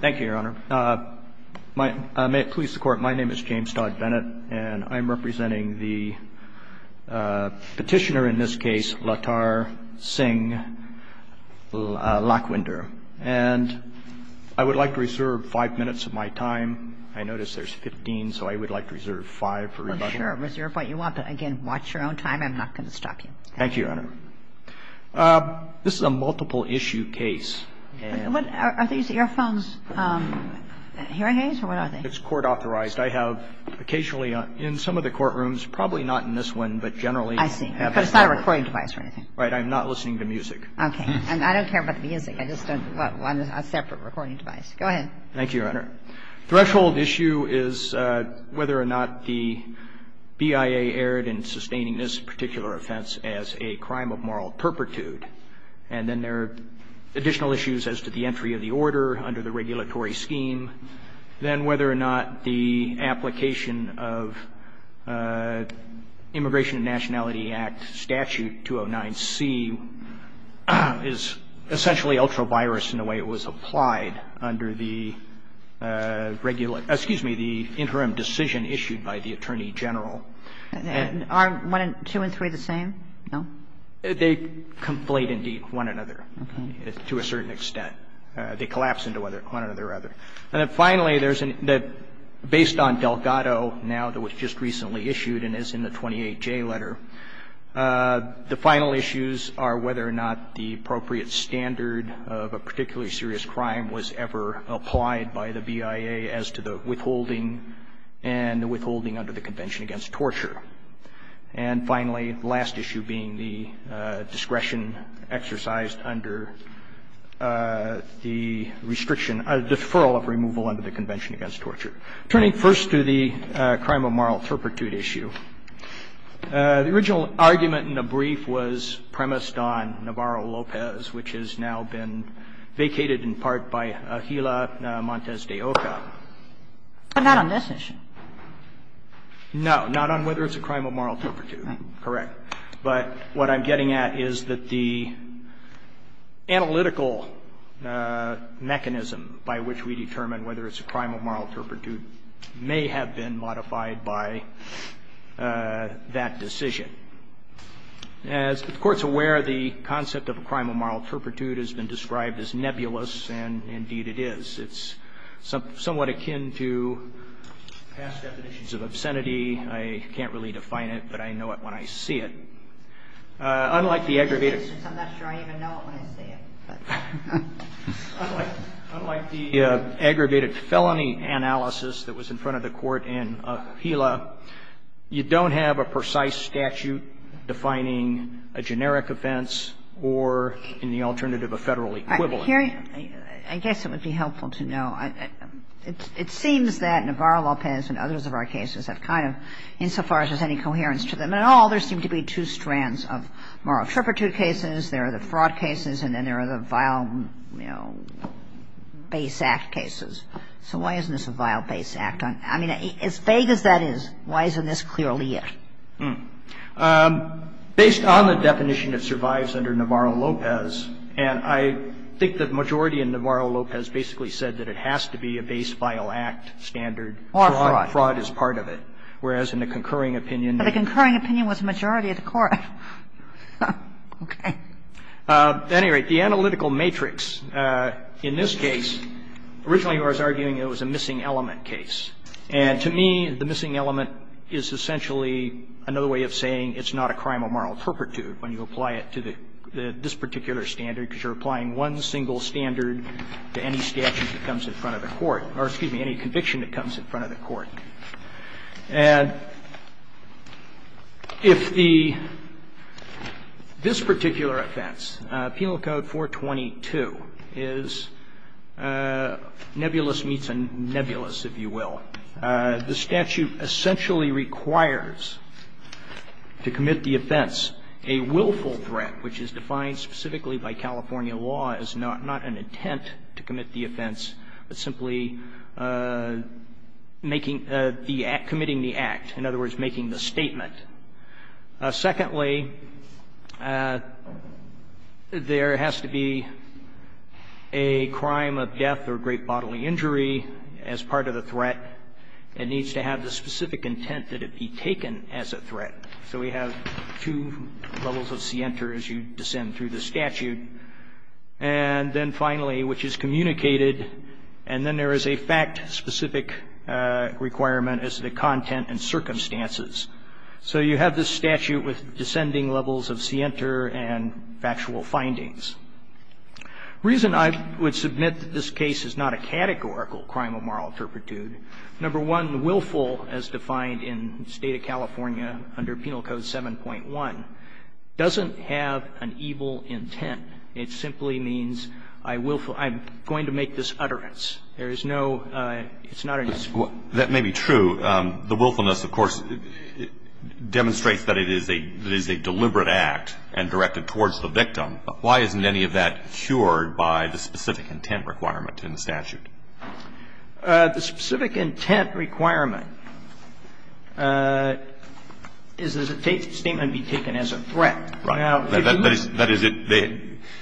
Thank you, Your Honor. May it please the Court, my name is James Todd Bennett, and I'm representing the petitioner in this case, Lattar-Singh Lakhwinder, and I would like to reserve five minutes of my time. I notice there's 15, so I would like to reserve five for rebuttal. Well, sure, reserve what you want, but again, watch your own time. I'm not going to stop you. Thank you, Your Honor. This is a multiple-issue case. Are these earphones hearing aids, or what are they? It's court-authorized. I have occasionally in some of the courtrooms, probably not in this one, but generally. I see. But it's not a recording device or anything? Right. I'm not listening to music. Okay. And I don't care about the music. I just don't want a separate recording device. Go ahead. Thank you, Your Honor. Threshold issue is whether or not the BIA erred in sustaining this particular offense as a crime of moral turpitude. And then there are additional issues as to the entry of the order under the regulatory scheme. And then there are additional issues as to the entry of the order under the regulatory scheme. Then whether or not the application of Immigration and Nationality Act Statute 209C is essentially ultra-virus in the way it was applied under the regular ‑‑ excuse me, the interim decision issued by the attorney general. Are one and ‑‑ two and three the same? No? They conflate, indeed, one another to a certain extent. They collapse into one another or other. And then finally, there's a ‑‑ based on Delgado, now that was just recently issued and is in the 28J letter, the final issues are whether or not the appropriate standard of a particularly serious crime was ever applied by the BIA as to the withholding and the withholding under the Convention Against Torture. And finally, the last issue being the discretion exercised under the restriction ‑‑ deferral of removal under the Convention Against Torture. Turning first to the crime of moral turpitude issue, the original argument in the brief was premised on Navarro-Lopez, which has now been vacated in part by Gila Montes de Oca. But not on this issue. No, not on whether it's a crime of moral turpitude, correct. But what I'm getting at is that the analytical mechanism by which we determine whether it's a crime of moral turpitude may have been modified by that decision. As the Court's aware, the concept of a crime of moral turpitude has been described as nebulous, and indeed it is. It's somewhat akin to past definitions of obscenity. I can't really define it, but I know it when I see it. Unlike the aggravated ‑‑ I'm not sure I even know it when I see it. Unlike the aggravated felony analysis that was in front of the Court in Gila, you don't have a precise statute defining a generic offense or, in the alternative, a Federal equivalent. But it's more than that. And it's more than that. And I'm curious, I guess it would be helpful to know. It seems that Navarro-Lopez and others of our cases have kind of, insofar as there's any coherence to them at all, there seems to be two strands of moral turpitude cases, there are the fraud cases and then there are the vile, you know, base act cases. So why isn't this a vile base act? I mean, as vague as that is, why isn't this clearly it? Hmm. Based on the definition that survives under Navarro-Lopez, and I think the majority in Navarro-Lopez basically said that it has to be a base vile act standard. Or fraud. Fraud is part of it. Whereas in the concurring opinion. But the concurring opinion was the majority of the court. Okay. At any rate, the analytical matrix in this case, originally I was arguing it was a missing element case. And to me, the missing element is essentially another way of saying it's not a crime of moral turpitude when you apply it to this particular standard, because you're applying one single standard to any statute that comes in front of the court, or excuse me, any conviction that comes in front of the court. And if this particular offense, Penal Code 422, is nebulous meets a nebulous, if you will, the statute essentially requires to commit the offense a willful threat, which is defined specifically by California law as not an intent to commit the offense, but simply committing the act. In other words, making the statement. Secondly, there has to be a crime of death or great bodily injury as part of the threat. It needs to have the specific intent that it be taken as a threat. So we have two levels of scienter as you descend through the statute. And then finally, which is communicated, and then there is a fact-specific requirement as the content and circumstances. So you have this statute with descending levels of scienter and factual findings. The reason I would submit that this case is not a categorical crime of moral turpitude, number one, willful as defined in the State of California under Penal Code 7.1 doesn't have an evil intent. It simply means I willful. I'm going to make this utterance. There is no – it's not an excuse. That may be true. The willfulness, of course, demonstrates that it is a deliberate act and directed towards the victim, but why isn't any of that cured by the specific intent requirement in the statute? The specific intent requirement is that the statement be taken as a threat. Right. That is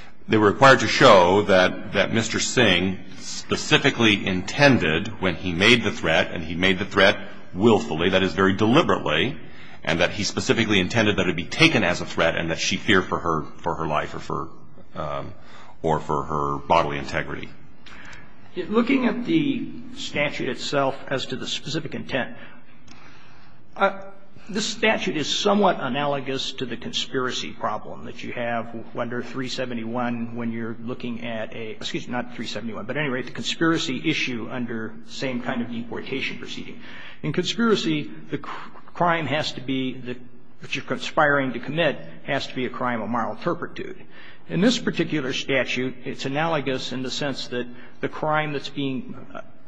– they were required to show that Mr. Singh specifically intended when he made the threat, and he made the threat willfully, that is very deliberately, and that he specifically intended that it be taken as a threat and that she fear for her life or for her bodily integrity. Looking at the statute itself as to the specific intent, this statute is somewhat analogous to the conspiracy problem that you have under 371 when you're looking at a – excuse me, not 371, but at any rate, the conspiracy issue under the same kind of deportation proceeding. In conspiracy, the crime has to be the – what you're conspiring to commit has to be a crime of moral turpitude. In this particular statute, it's analogous in the sense that the crime that's being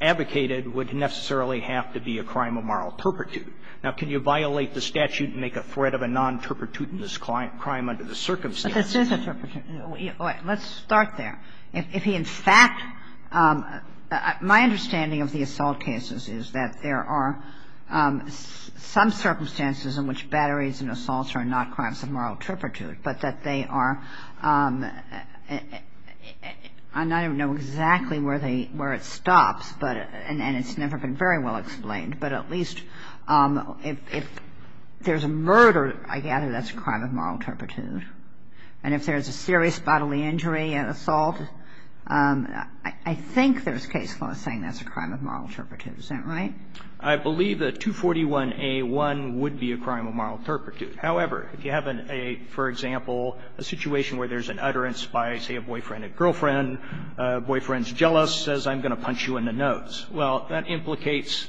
advocated would necessarily have to be a crime of moral turpitude. Now, can you violate the statute and make a threat of a non-turpitudinous crime under the circumstances? But this is a turpitude. Let's start there. If he in fact – my understanding of the assault cases is that there are some circumstances in which batteries and assaults are not crimes of moral turpitude, but that they are – and I don't know exactly where they – where it stops, but – and it's never been very well explained, but at least if there's a murder, I gather that's a crime of moral turpitude. And if there's a serious bodily injury, an assault, I think there's case law saying that's a crime of moral turpitude. Is that right? I believe that 241A.1 would be a crime of moral turpitude. However, if you have a, for example, a situation where there's an utterance by, say, a boyfriend or girlfriend, boyfriend's jealous, says, I'm going to punch you in the nose, well, that implicates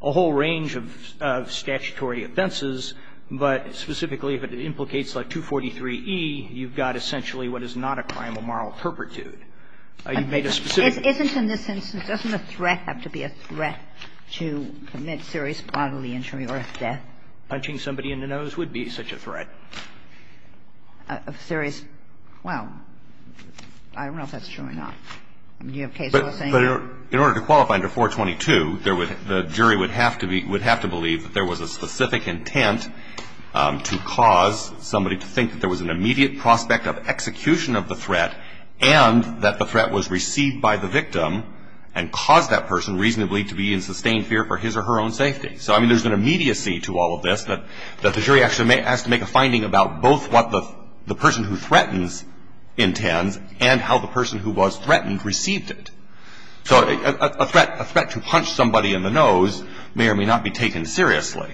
a whole range of statutory offenses. But specifically, if it implicates like 243E, you've got essentially what is not a crime of moral turpitude. You've made a specific – You've made a specific intent to commit serious bodily injury or death. Punching somebody in the nose would be such a threat. A serious – well, I don't know if that's true or not. Do you have case law saying that? But in order to qualify under 422, there would – the jury would have to be – would have to believe that there was a specific intent to cause somebody to think that there was an immediate prospect of execution of the threat and that the threat was received by the victim and caused that person reasonably to be in sustained fear for his or her own safety. So, I mean, there's an immediacy to all of this that the jury actually has to make a finding about both what the person who threatens intends and how the person who was threatened received it. So a threat – a threat to punch somebody in the nose may or may not be taken seriously.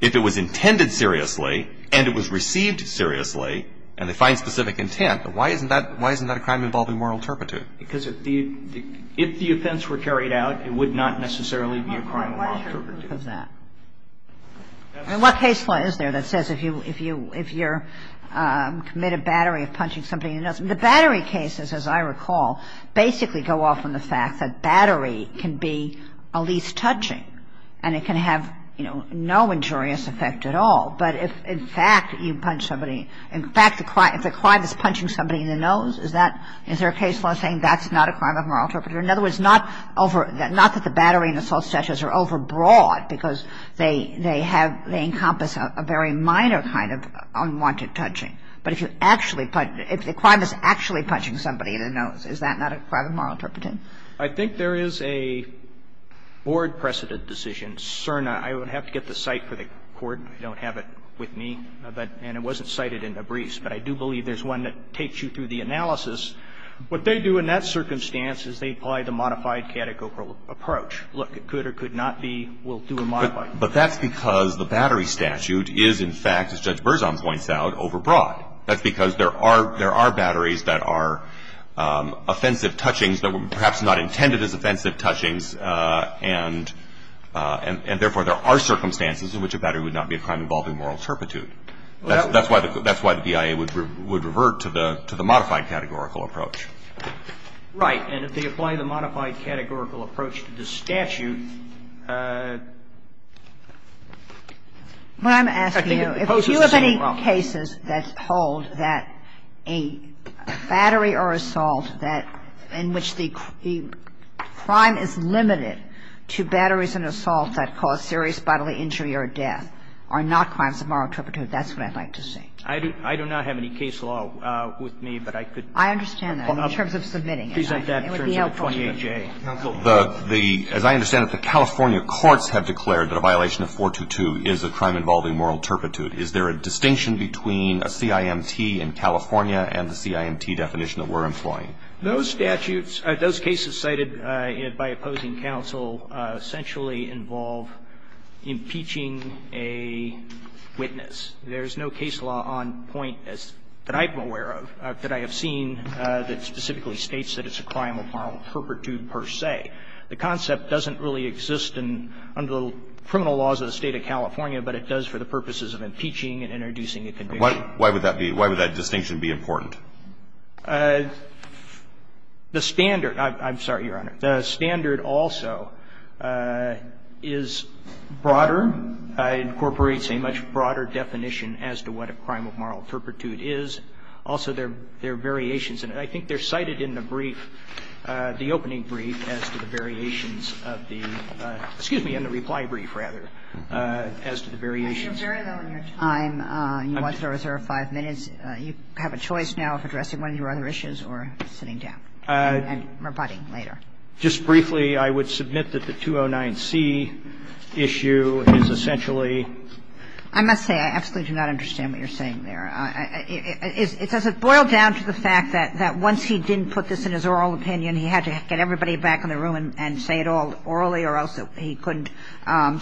If it was intended seriously and it was received seriously and they find specific intent, why isn't that a crime involving moral turpitude? Because if the offense were carried out, it would not necessarily be a crime of moral turpitude. And what case law is there that says if you're committed battery of punching somebody in the nose – the battery cases, as I recall, basically go off on the fact that battery can be a least touching and it can have, you know, no injurious effect at all. But if, in fact, you punch somebody – in fact, if the crime is punching somebody in the nose, is that – is there a case law saying that's not a crime of moral turpitude? In other words, not over – not that the battery and assault statutes are overbroad because they have – they encompass a very minor kind of unwanted touching. But if you actually – if the crime is actually punching somebody in the nose, is that not a crime of moral turpitude? I think there is a board-precedented decision. I don't have it with me. And it wasn't cited in Nabris. But I do believe there's one that takes you through the analysis. What they do in that circumstance is they apply the modified catechorical approach. Look, it could or could not be. We'll do a modified. But that's because the battery statute is, in fact, as Judge Berzon points out, overbroad. That's because there are – there are batteries that are offensive touchings that were perhaps not intended as offensive touchings. And therefore, there are circumstances in which a battery would not be a crime involving moral turpitude. That's why the – that's why the BIA would revert to the – to the modified categorical approach. Right. And if they apply the modified categorical approach to the statute, I think it poses the same problem. Well, I'm asking you, if you have any cases that hold that a battery or assault that – in which the crime is limited to batteries and assaults that cause serious bodily injury or death are not crimes of moral turpitude, that's what I'd like to see. I do not have any case law with me, but I could – I understand that, in terms of submitting it. It would be helpful to you. As I understand it, the California courts have declared that a violation of 422 is a crime involving moral turpitude. Is there a distinction between a CIMT in California and the CIMT definition that we're employing? Those statutes – those cases cited by opposing counsel essentially involve impeaching a witness. There's no case law on point that I'm aware of, that I have seen, that specifically states that it's a crime of moral turpitude per se. The concept doesn't really exist in – under the criminal laws of the State of California, but it does for the purposes of impeaching and introducing a conviction. Why would that be – why would that distinction be important? The standard – I'm sorry, Your Honor. The standard also is broader, incorporates a much broader definition as to what a crime of moral turpitude is. Also, there are variations in it. I think they're cited in the brief, the opening brief, as to the variations of the – excuse me, in the reply brief, rather, as to the variations. You're very low on your time. You want to reserve five minutes. You have a choice now of addressing one of your other issues or sitting down and rebutting later. Just briefly, I would submit that the 209C issue is essentially – I must say, I absolutely do not understand what you're saying there. Is – does it boil down to the fact that once he didn't put this in his oral opinion, he had to get everybody back in the room and say it all orally, or else he couldn't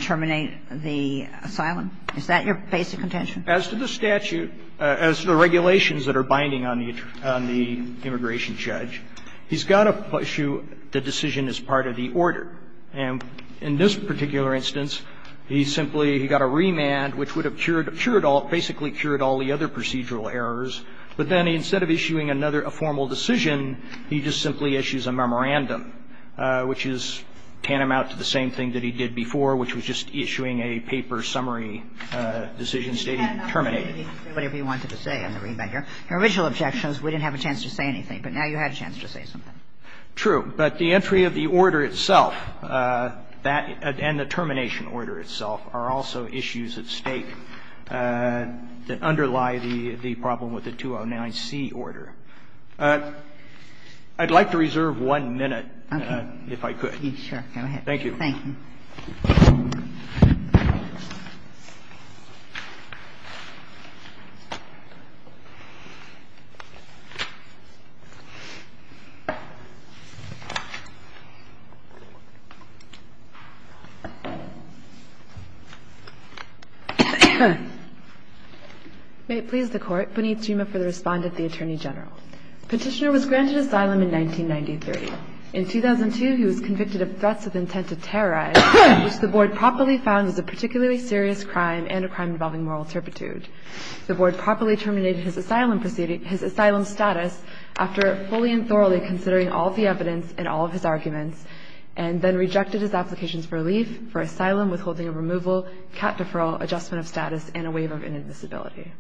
terminate the asylum? Is that your basic intention? As to the statute, as to the regulations that are binding on the immigration judge, he's got to issue the decision as part of the order. And in this particular instance, he simply – he got a remand, which would have cured – cured all – basically cured all the other procedural errors. But then instead of issuing another – a formal decision, he just simply issues a memorandum, which is tantamount to the same thing that he did before, which was just issuing a paper summary decision stating terminate it. Whatever you wanted to say, I'm going to read back here. Your original objection is we didn't have a chance to say anything, but now you had a chance to say something. True. But the entry of the order itself, that – and the termination order itself are also issues at stake that underlie the problem with the 209C order. I'd like to reserve one minute, if I could. Okay. Go ahead. Thank you. May it please the Court. Puneet Jima for the respondent, the Attorney General. Petitioner was granted asylum in 1993. In 2002, he was convicted of threats of intent to terrorize, which the Board properly found was a particularly serious crime and a crime involving moral turpitude. The Board properly terminated his asylum status after fully and thoroughly considering all of the evidence and all of his arguments, and then rejected his applications for relief, for asylum withholding of removal, cap deferral, adjustment of status, and a waiver of inadmissibility.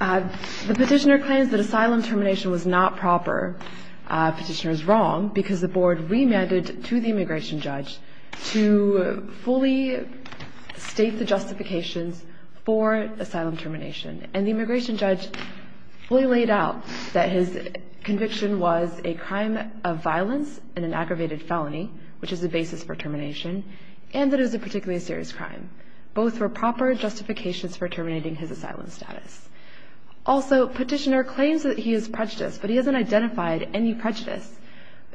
The petitioner claims that asylum termination was not proper. Petitioner is wrong, because the Board remanded to the immigration judge to fully state the justifications for asylum termination. And the immigration judge fully laid out that his conviction was a crime of violence and an aggravated felony, which is the basis for termination, and that it was a particularly serious crime. Both were proper justifications for terminating his asylum status. Also, petitioner claims that he is prejudiced, but he hasn't identified any prejudice,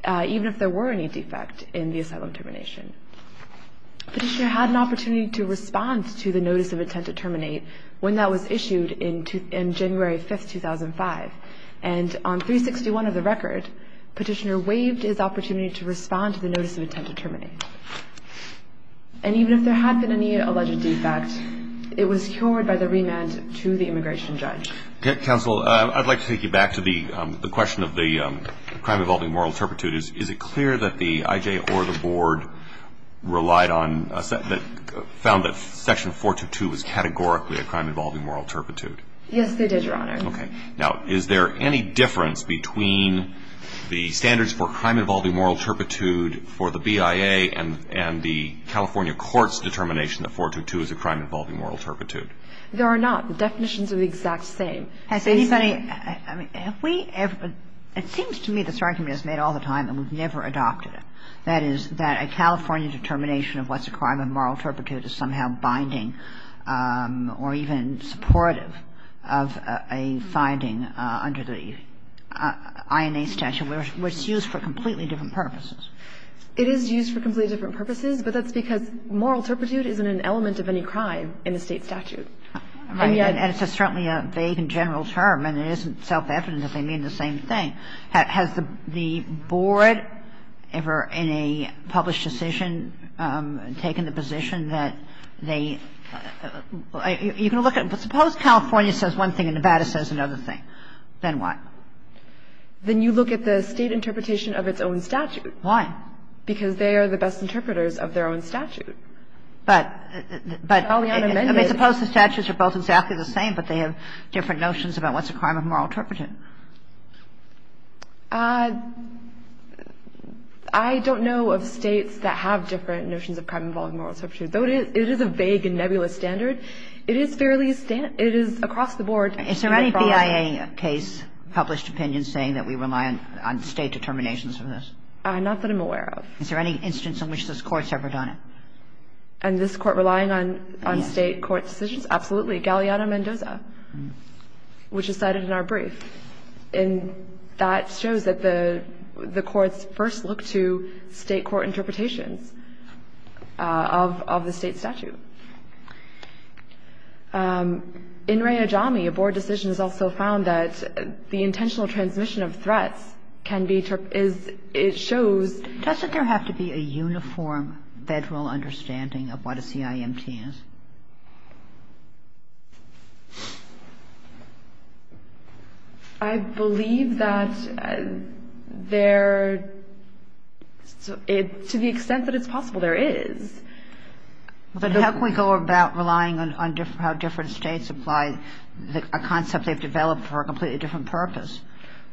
even if there were any defect in the asylum termination. Petitioner had an opportunity to respond to the notice of intent to terminate when that was issued in January 5, 2005. And on 361 of the record, petitioner waived his opportunity to respond to the notice of intent to terminate. And even if there had been any alleged defect, it was cured by the remand to the immigration judge. Counsel, I'd like to take you back to the question of the crime involving moral turpitude. Is it clear that the IJ or the Board relied on or found that Section 422 was categorically a crime involving moral turpitude? Yes, they did, Your Honor. Okay. Now, is there any difference between the standards for crime involving moral turpitude for the BIA and the California court's determination that 422 is a crime involving moral turpitude? There are not. The definitions are the exact same. Has anybody ‑‑ Have we ever ‑‑ it seems to me this argument is made all the time and we've never adopted it, that is, that a California determination of what's a crime of moral turpitude is somehow binding or even supportive of a finding under the INA statute which is used for completely different purposes. It is used for completely different purposes, but that's because moral turpitude isn't an element of any crime in the State statute. And yet ‑‑ And it's certainly a vague and general term, and it isn't self-evident that they mean the same thing. Has the Board ever in a published decision taken the position that they ‑‑ you can look at it, but suppose California says one thing and Nevada says another thing. Then what? Then you look at the State interpretation of its own statute. Why? Because they are the best interpreters of their own statute. But ‑‑ Probably unamended. I mean, suppose the statutes are both exactly the same, but they have different notions about what's a crime of moral turpitude. I don't know of States that have different notions of crime involving moral turpitude. Though it is a vague and nebulous standard, it is fairly standard. It is across the board. Is there any BIA case, published opinion, saying that we rely on State determinations for this? Not that I'm aware of. Is there any instance in which this Court's ever done it? And this Court relying on State court decisions? Yes. Absolutely. Galeano Mendoza, which is cited in our brief. And that shows that the courts first look to State court interpretations of the State statute. In Ray Ajami, a board decision has also found that the intentional transmission of threats can be ‑‑ it shows ‑‑ Doesn't there have to be a uniform Federal understanding of what a CIMT is? I believe that there ‑‑ to the extent that it's possible, there is. But how can we go about relying on how different States apply a concept they've developed for a completely different purpose?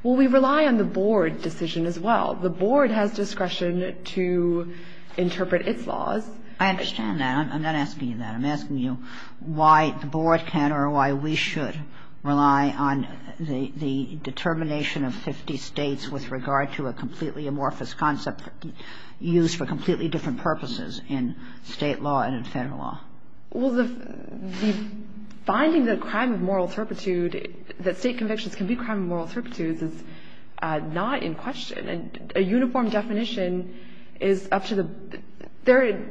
Well, we rely on the board decision as well. The board has discretion to interpret its laws. I understand that. I'm not asking you that. I'm asking you why the board can or why we should rely on the determination of 50 States with regard to a completely amorphous concept used for completely different purposes in State law and in Federal law. Well, the finding that crime of moral turpitude, that State convictions can be crime of moral turpitudes is not in question. A uniform definition is up to the ‑‑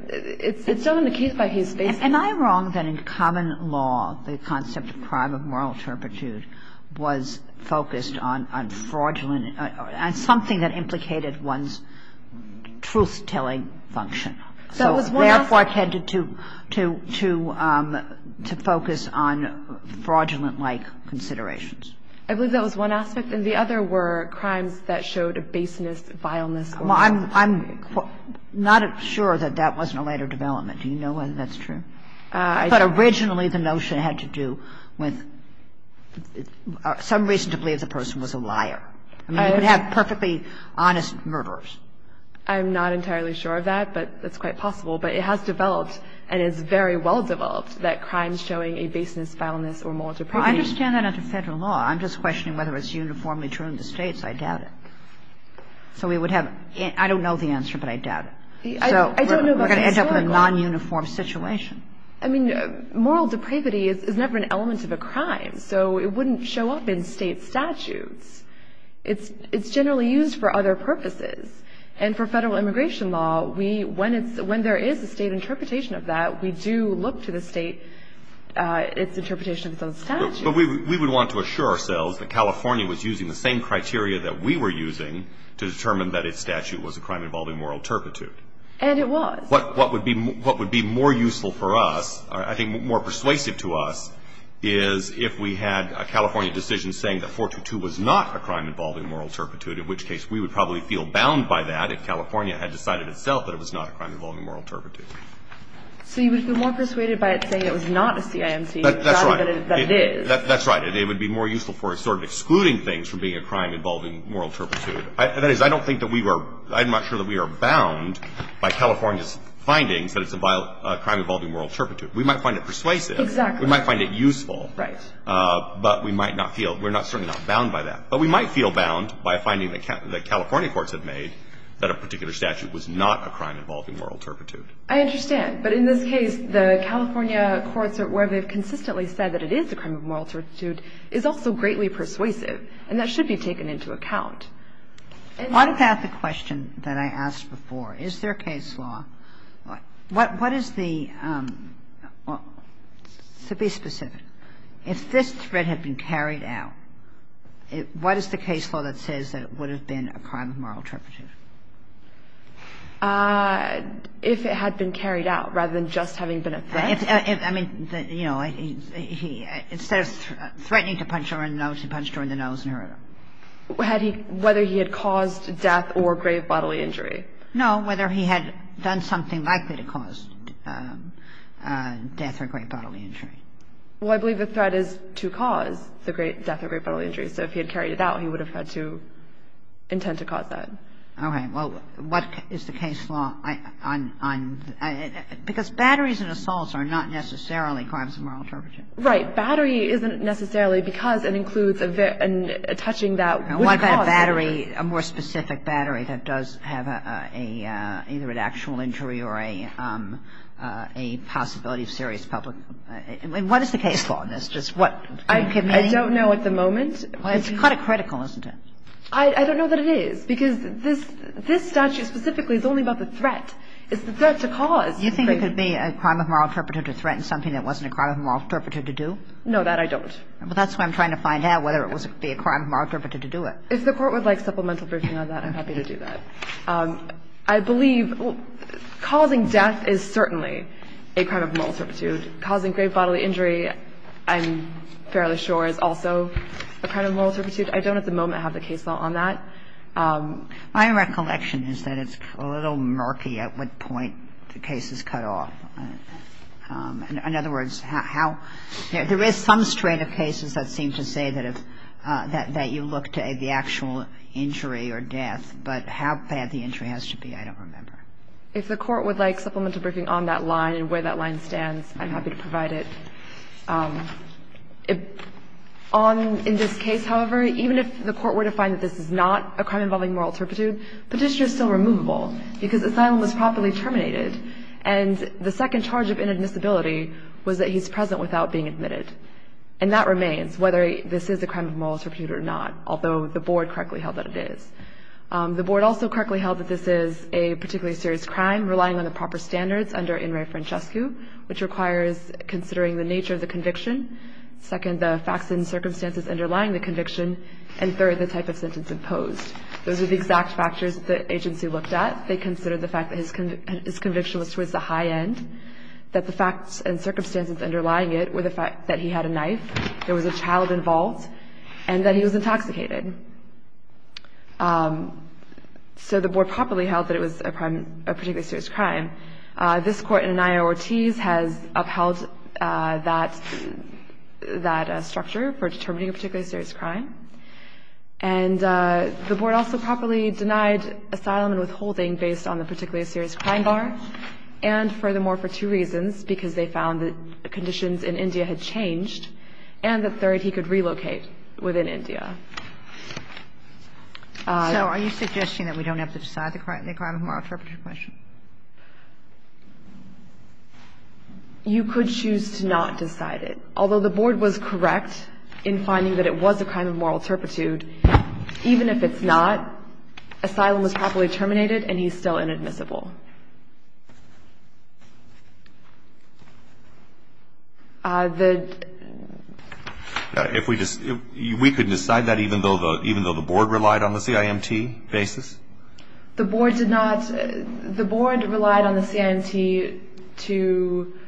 it's still in the case by case basis. Am I wrong that in common law the concept of crime of moral turpitude was focused on fraudulent ‑‑ on something that implicated one's truth‑telling function. So, therefore, I tended to focus on fraudulent‑like considerations. I believe that was one aspect. And the other were crimes that showed baseness, vileness. Well, I'm not sure that that was in a later development. Do you know whether that's true? I thought originally the notion had to do with some reason to believe the person was a liar. I mean, you could have perfectly honest murderers. I'm not entirely sure of that, but it's quite possible. But it has developed, and it's very well developed, that crime showing a baseness, vileness, or moral turpitude. Well, I understand that under Federal law. I'm just questioning whether it's uniformly true in the States. I doubt it. So we would have ‑‑ I don't know the answer, but I doubt it. We're going to end up in a nonuniform situation. I mean, moral depravity is never an element of a crime, so it wouldn't show up in State statutes. It's generally used for other purposes. And for Federal immigration law, when there is a State interpretation of that, we do look to the State, its interpretation of those statutes. But we would want to assure ourselves that California was using the same criteria that we were using to determine that its statute was a crime involving moral turpitude. And it was. What would be more useful for us, I think more persuasive to us, is if we had a California decision saying that 422 was not a crime involving moral turpitude, in which case we would probably feel bound by that if California had decided itself that it was not a crime involving moral turpitude. So you would feel more persuaded by it saying it was not a CIMC rather than it is. That's right. And it would be more useful for us sort of excluding things from being a crime involving moral turpitude. That is, I don't think that we were – I'm not sure that we are bound by California's findings that it's a crime involving moral turpitude. We might find it persuasive. Exactly. We might find it useful. Right. But we might not feel – we're certainly not bound by that. But we might feel bound by finding that California courts have made that a particular statute was not a crime involving moral turpitude. I understand. But in this case, the California courts, where they've consistently said that it is a crime of moral turpitude, is also greatly persuasive, and that should be taken into account. What about the question that I asked before? Is there a case law – what is the – to be specific, if this threat had been carried out, what is the case law that says that it would have been a crime of moral turpitude? If it had been carried out rather than just having been a threat. I mean, you know, he – instead of threatening to punch her in the nose, he punched her in the nose and hurt her. Had he – whether he had caused death or grave bodily injury. No. Whether he had done something likely to cause death or grave bodily injury. Well, I believe the threat is to cause the death or grave bodily injury. So if he had carried it out, he would have had to intend to cause that. Okay. Well, what is the case law on – because batteries and assaults are not necessarily crimes of moral turpitude. Right. Battery isn't necessarily because it includes a touching that would cause injury. What about a battery, a more specific battery that does have a – either an actual injury or a possibility of serious public – what is the case law on this? I don't know at the moment. It's kind of critical, isn't it? I don't know that it is, because this statute specifically is only about the threat. It's the threat to cause. You think it could be a crime of moral turpitude to threaten something that wasn't a crime of moral turpitude to do? No, that I don't. Well, that's what I'm trying to find out, whether it would be a crime of moral turpitude to do it. If the Court would like supplemental briefing on that, I'm happy to do that. I believe causing death is certainly a crime of moral turpitude. Causing grave bodily injury, I'm fairly sure, is also a crime of moral turpitude. I don't at the moment have the case law on that. My recollection is that it's a little murky at what point the case is cut off. In other words, how – there is some strain of cases that seem to say that you look to the actual injury or death, but how bad the injury has to be, I don't remember. If the Court would like supplemental briefing on that line and where that line stands, I'm happy to provide it. In this case, however, even if the Court were to find that this is not a crime involving moral turpitude, petitioner is still removable because asylum was properly terminated and the second charge of inadmissibility was that he's present without being admitted. And that remains, whether this is a crime of moral turpitude or not, although the Board correctly held that it is. The Board also correctly held that this is a particularly serious crime, relying on the proper standards under in re francescu, which requires considering the nature of the conviction, second, the facts and circumstances underlying the conviction, and third, the type of sentence imposed. Those are the exact factors that the agency looked at. They considered the fact that his conviction was towards the high end, that the facts and circumstances underlying it were the fact that he had a knife, there was a child involved, and that he was intoxicated. So the Board properly held that it was a particularly serious crime. This Court in Anaya-Ortiz has upheld that structure for determining a particularly serious crime. And the Board also properly denied asylum and withholding based on the particularly serious crime bar and, furthermore, for two reasons, because they found that conditions in India had changed and that, third, he could relocate within India. So are you suggesting that we don't have to decide the crime of moral turpitude question? You could choose to not decide it. Although the Board was correct in finding that it was a crime of moral turpitude, even if it's not, asylum was properly terminated and he's still inadmissible. The ---- We could decide that even though the Board relied on the CIMT basis? The Board did not. The Board relied on the CIMT to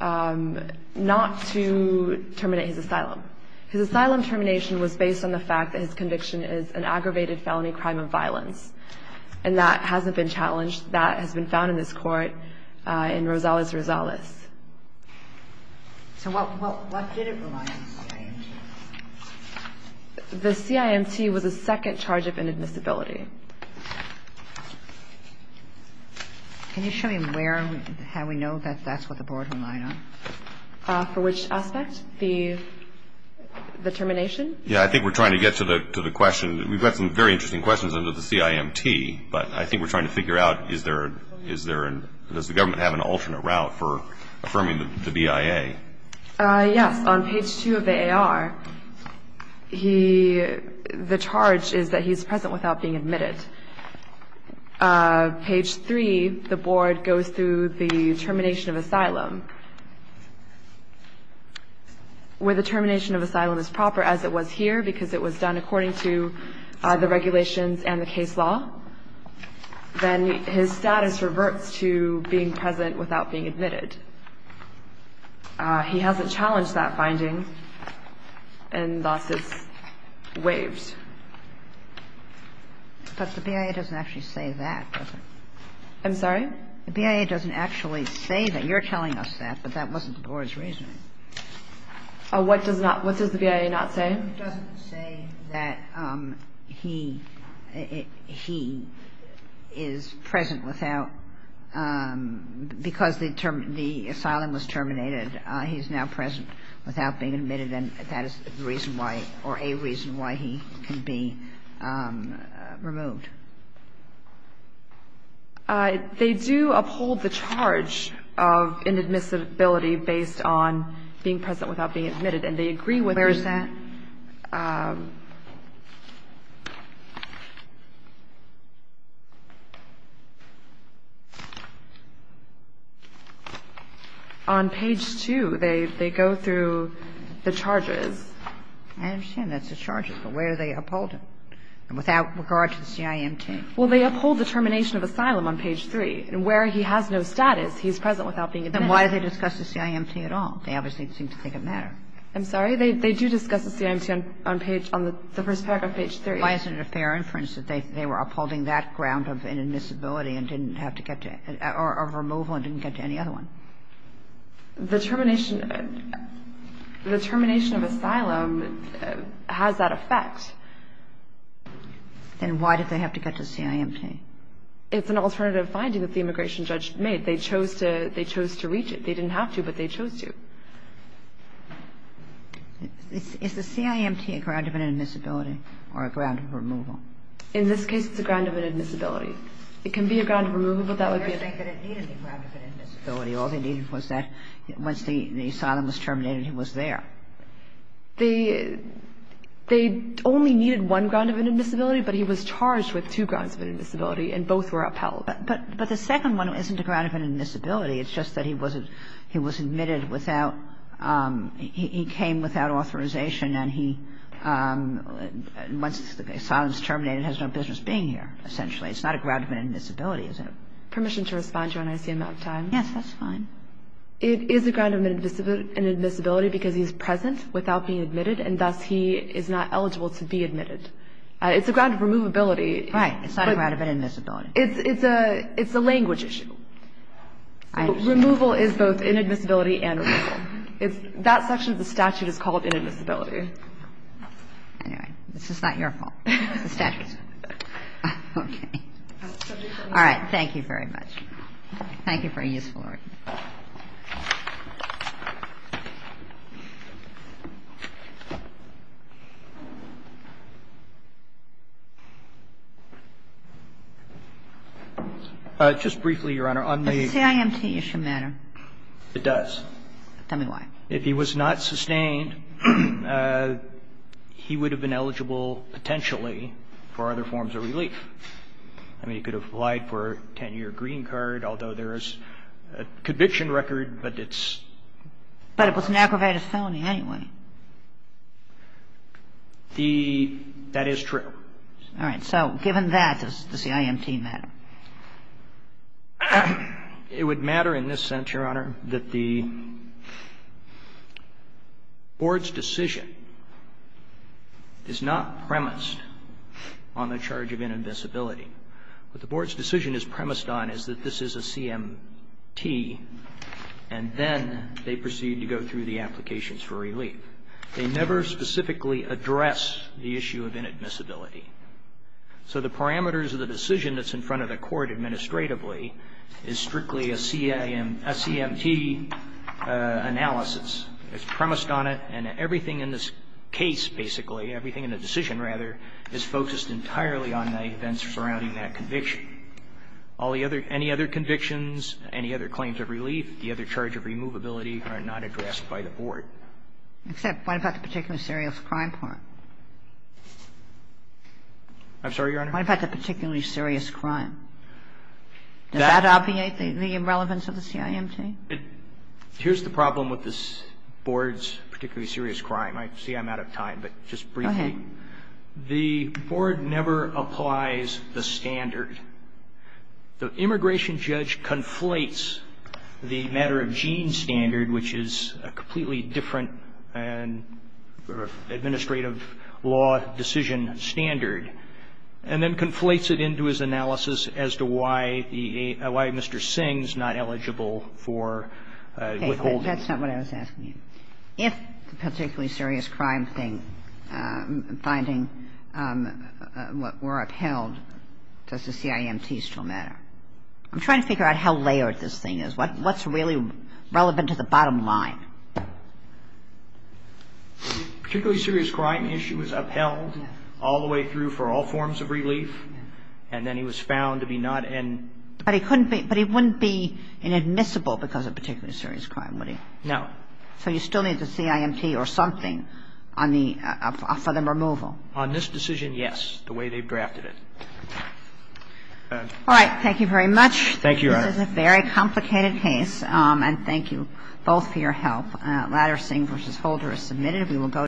not to terminate his asylum. His asylum termination was based on the fact that his conviction is an aggravated felony crime of violence. And that hasn't been challenged. That has been found in this Court in Rosales-Rosales. So what did it rely on, the CIMT? The CIMT was a second charge of inadmissibility. Can you show me where and how we know that that's what the Board relied on? For which aspect? The termination? Yeah, I think we're trying to get to the question. We've got some very interesting questions under the CIMT, but I think we're trying to figure out does the government have an alternate route for affirming the BIA? Yes. On page 2 of the AR, the charge is that he's present without being admitted. Page 3, the Board goes through the termination of asylum. Where the termination of asylum is proper, as it was here, because it was done according to the regulations and the case law, then his status reverts to being present without being admitted. He hasn't challenged that finding and thus is waived. But the BIA doesn't actually say that, does it? I'm sorry? The BIA doesn't actually say that. You're telling us that, but that wasn't the Board's reasoning. What does the BIA not say? The BIA doesn't say that he is present without, because the asylum was terminated, he's now present without being admitted, and that is the reason why or a reason why he can be removed. They do uphold the charge of inadmissibility based on being present without being admitted, and they agree with that. On page 2, they go through the charges. I understand that's the charges, but where are they upholding, without regard to the CIMT? Well, they uphold the termination of asylum on page 3. Where he has no status, he's present without being admitted. Then why do they discuss the CIMT at all? They obviously seem to think it matters. I'm sorry? They do discuss the CIMT on page, on the first paragraph, page 3. Why isn't it a fair inference that they were upholding that ground of inadmissibility and didn't have to get to, or of removal and didn't get to any other one? The termination of asylum has that effect. Then why did they have to get to the CIMT? It's an alternative finding that the immigration judge made. They chose to reach it. They didn't have to, but they chose to. Is the CIMT a ground of inadmissibility or a ground of removal? In this case, it's a ground of inadmissibility. It can be a ground of removal, but that would be a ground of inadmissibility. All they needed was that once the asylum was terminated, he was there. They only needed one ground of inadmissibility, but he was charged with two grounds of inadmissibility, and both were upheld. But the second one isn't a ground of inadmissibility. It's just that he was admitted without – he came without authorization and he – once the asylum is terminated, he has no business being here, essentially. It's not a ground of inadmissibility, is it? Permission to respond, Your Honor, is the amount of time. Yes, that's fine. It is a ground of inadmissibility because he's present without being admitted, and thus he is not eligible to be admitted. It's a ground of removability. Right. It's not a ground of inadmissibility. It's a language issue. Removal is both inadmissibility and removal. That section of the statute is called inadmissibility. Anyway, this is not your fault. It's the statute's fault. Okay. All right. Thank you very much. Thank you for a useful argument. Just briefly, Your Honor, on the – Does the CIMT issue matter? It does. Tell me why. If he was not sustained, he would have been eligible potentially for other forms of relief. I mean, he could have applied for a 10-year green card, although there is a conviction record, but it's – But it was an aggravated felony anyway. The – that is true. All right. So given that, does the CIMT matter? It would matter in this sense, Your Honor, that the Board's decision is not premised on the charge of inadmissibility. What the Board's decision is premised on is that this is a CMT, and then they proceed to go through the applications for relief. They never specifically address the issue of inadmissibility. So the parameters of the decision that's in front of the court administratively is strictly a CMT analysis. It's premised on it, and everything in this case, basically, everything in the decision, rather, is focused entirely on the events surrounding that conviction. All the other – any other convictions, any other claims of relief, the other charge of removability are not addressed by the Board. Except what about the particularly serious crime part? I'm sorry, Your Honor? What about the particularly serious crime? Does that obviate the relevance of the CIMT? Here's the problem with this Board's particularly serious crime. I see I'm out of time, but just briefly. The Board never applies the standard. The immigration judge conflates the matter-of-gene standard, which is a completely different administrative law decision standard, and then conflates it into his analysis as to why Mr. Singh's not eligible for withholding. That's not what I was asking you. If the particularly serious crime thing, finding what were upheld, does the CIMT still matter? I'm trying to figure out how layered this thing is. What's really relevant to the bottom line? The particularly serious crime issue was upheld all the way through for all forms of relief, and then he was found to be not in. But he couldn't be – but he wouldn't be inadmissible because of particularly serious crime, would he? No. So you still need the CIMT or something on the – for the removal? On this decision, yes, the way they've drafted it. All right. Thank you very much. Thank you, Your Honor. This is a very complicated case, and thank you both for your help. Ladder-Singh v. Holder is submitted.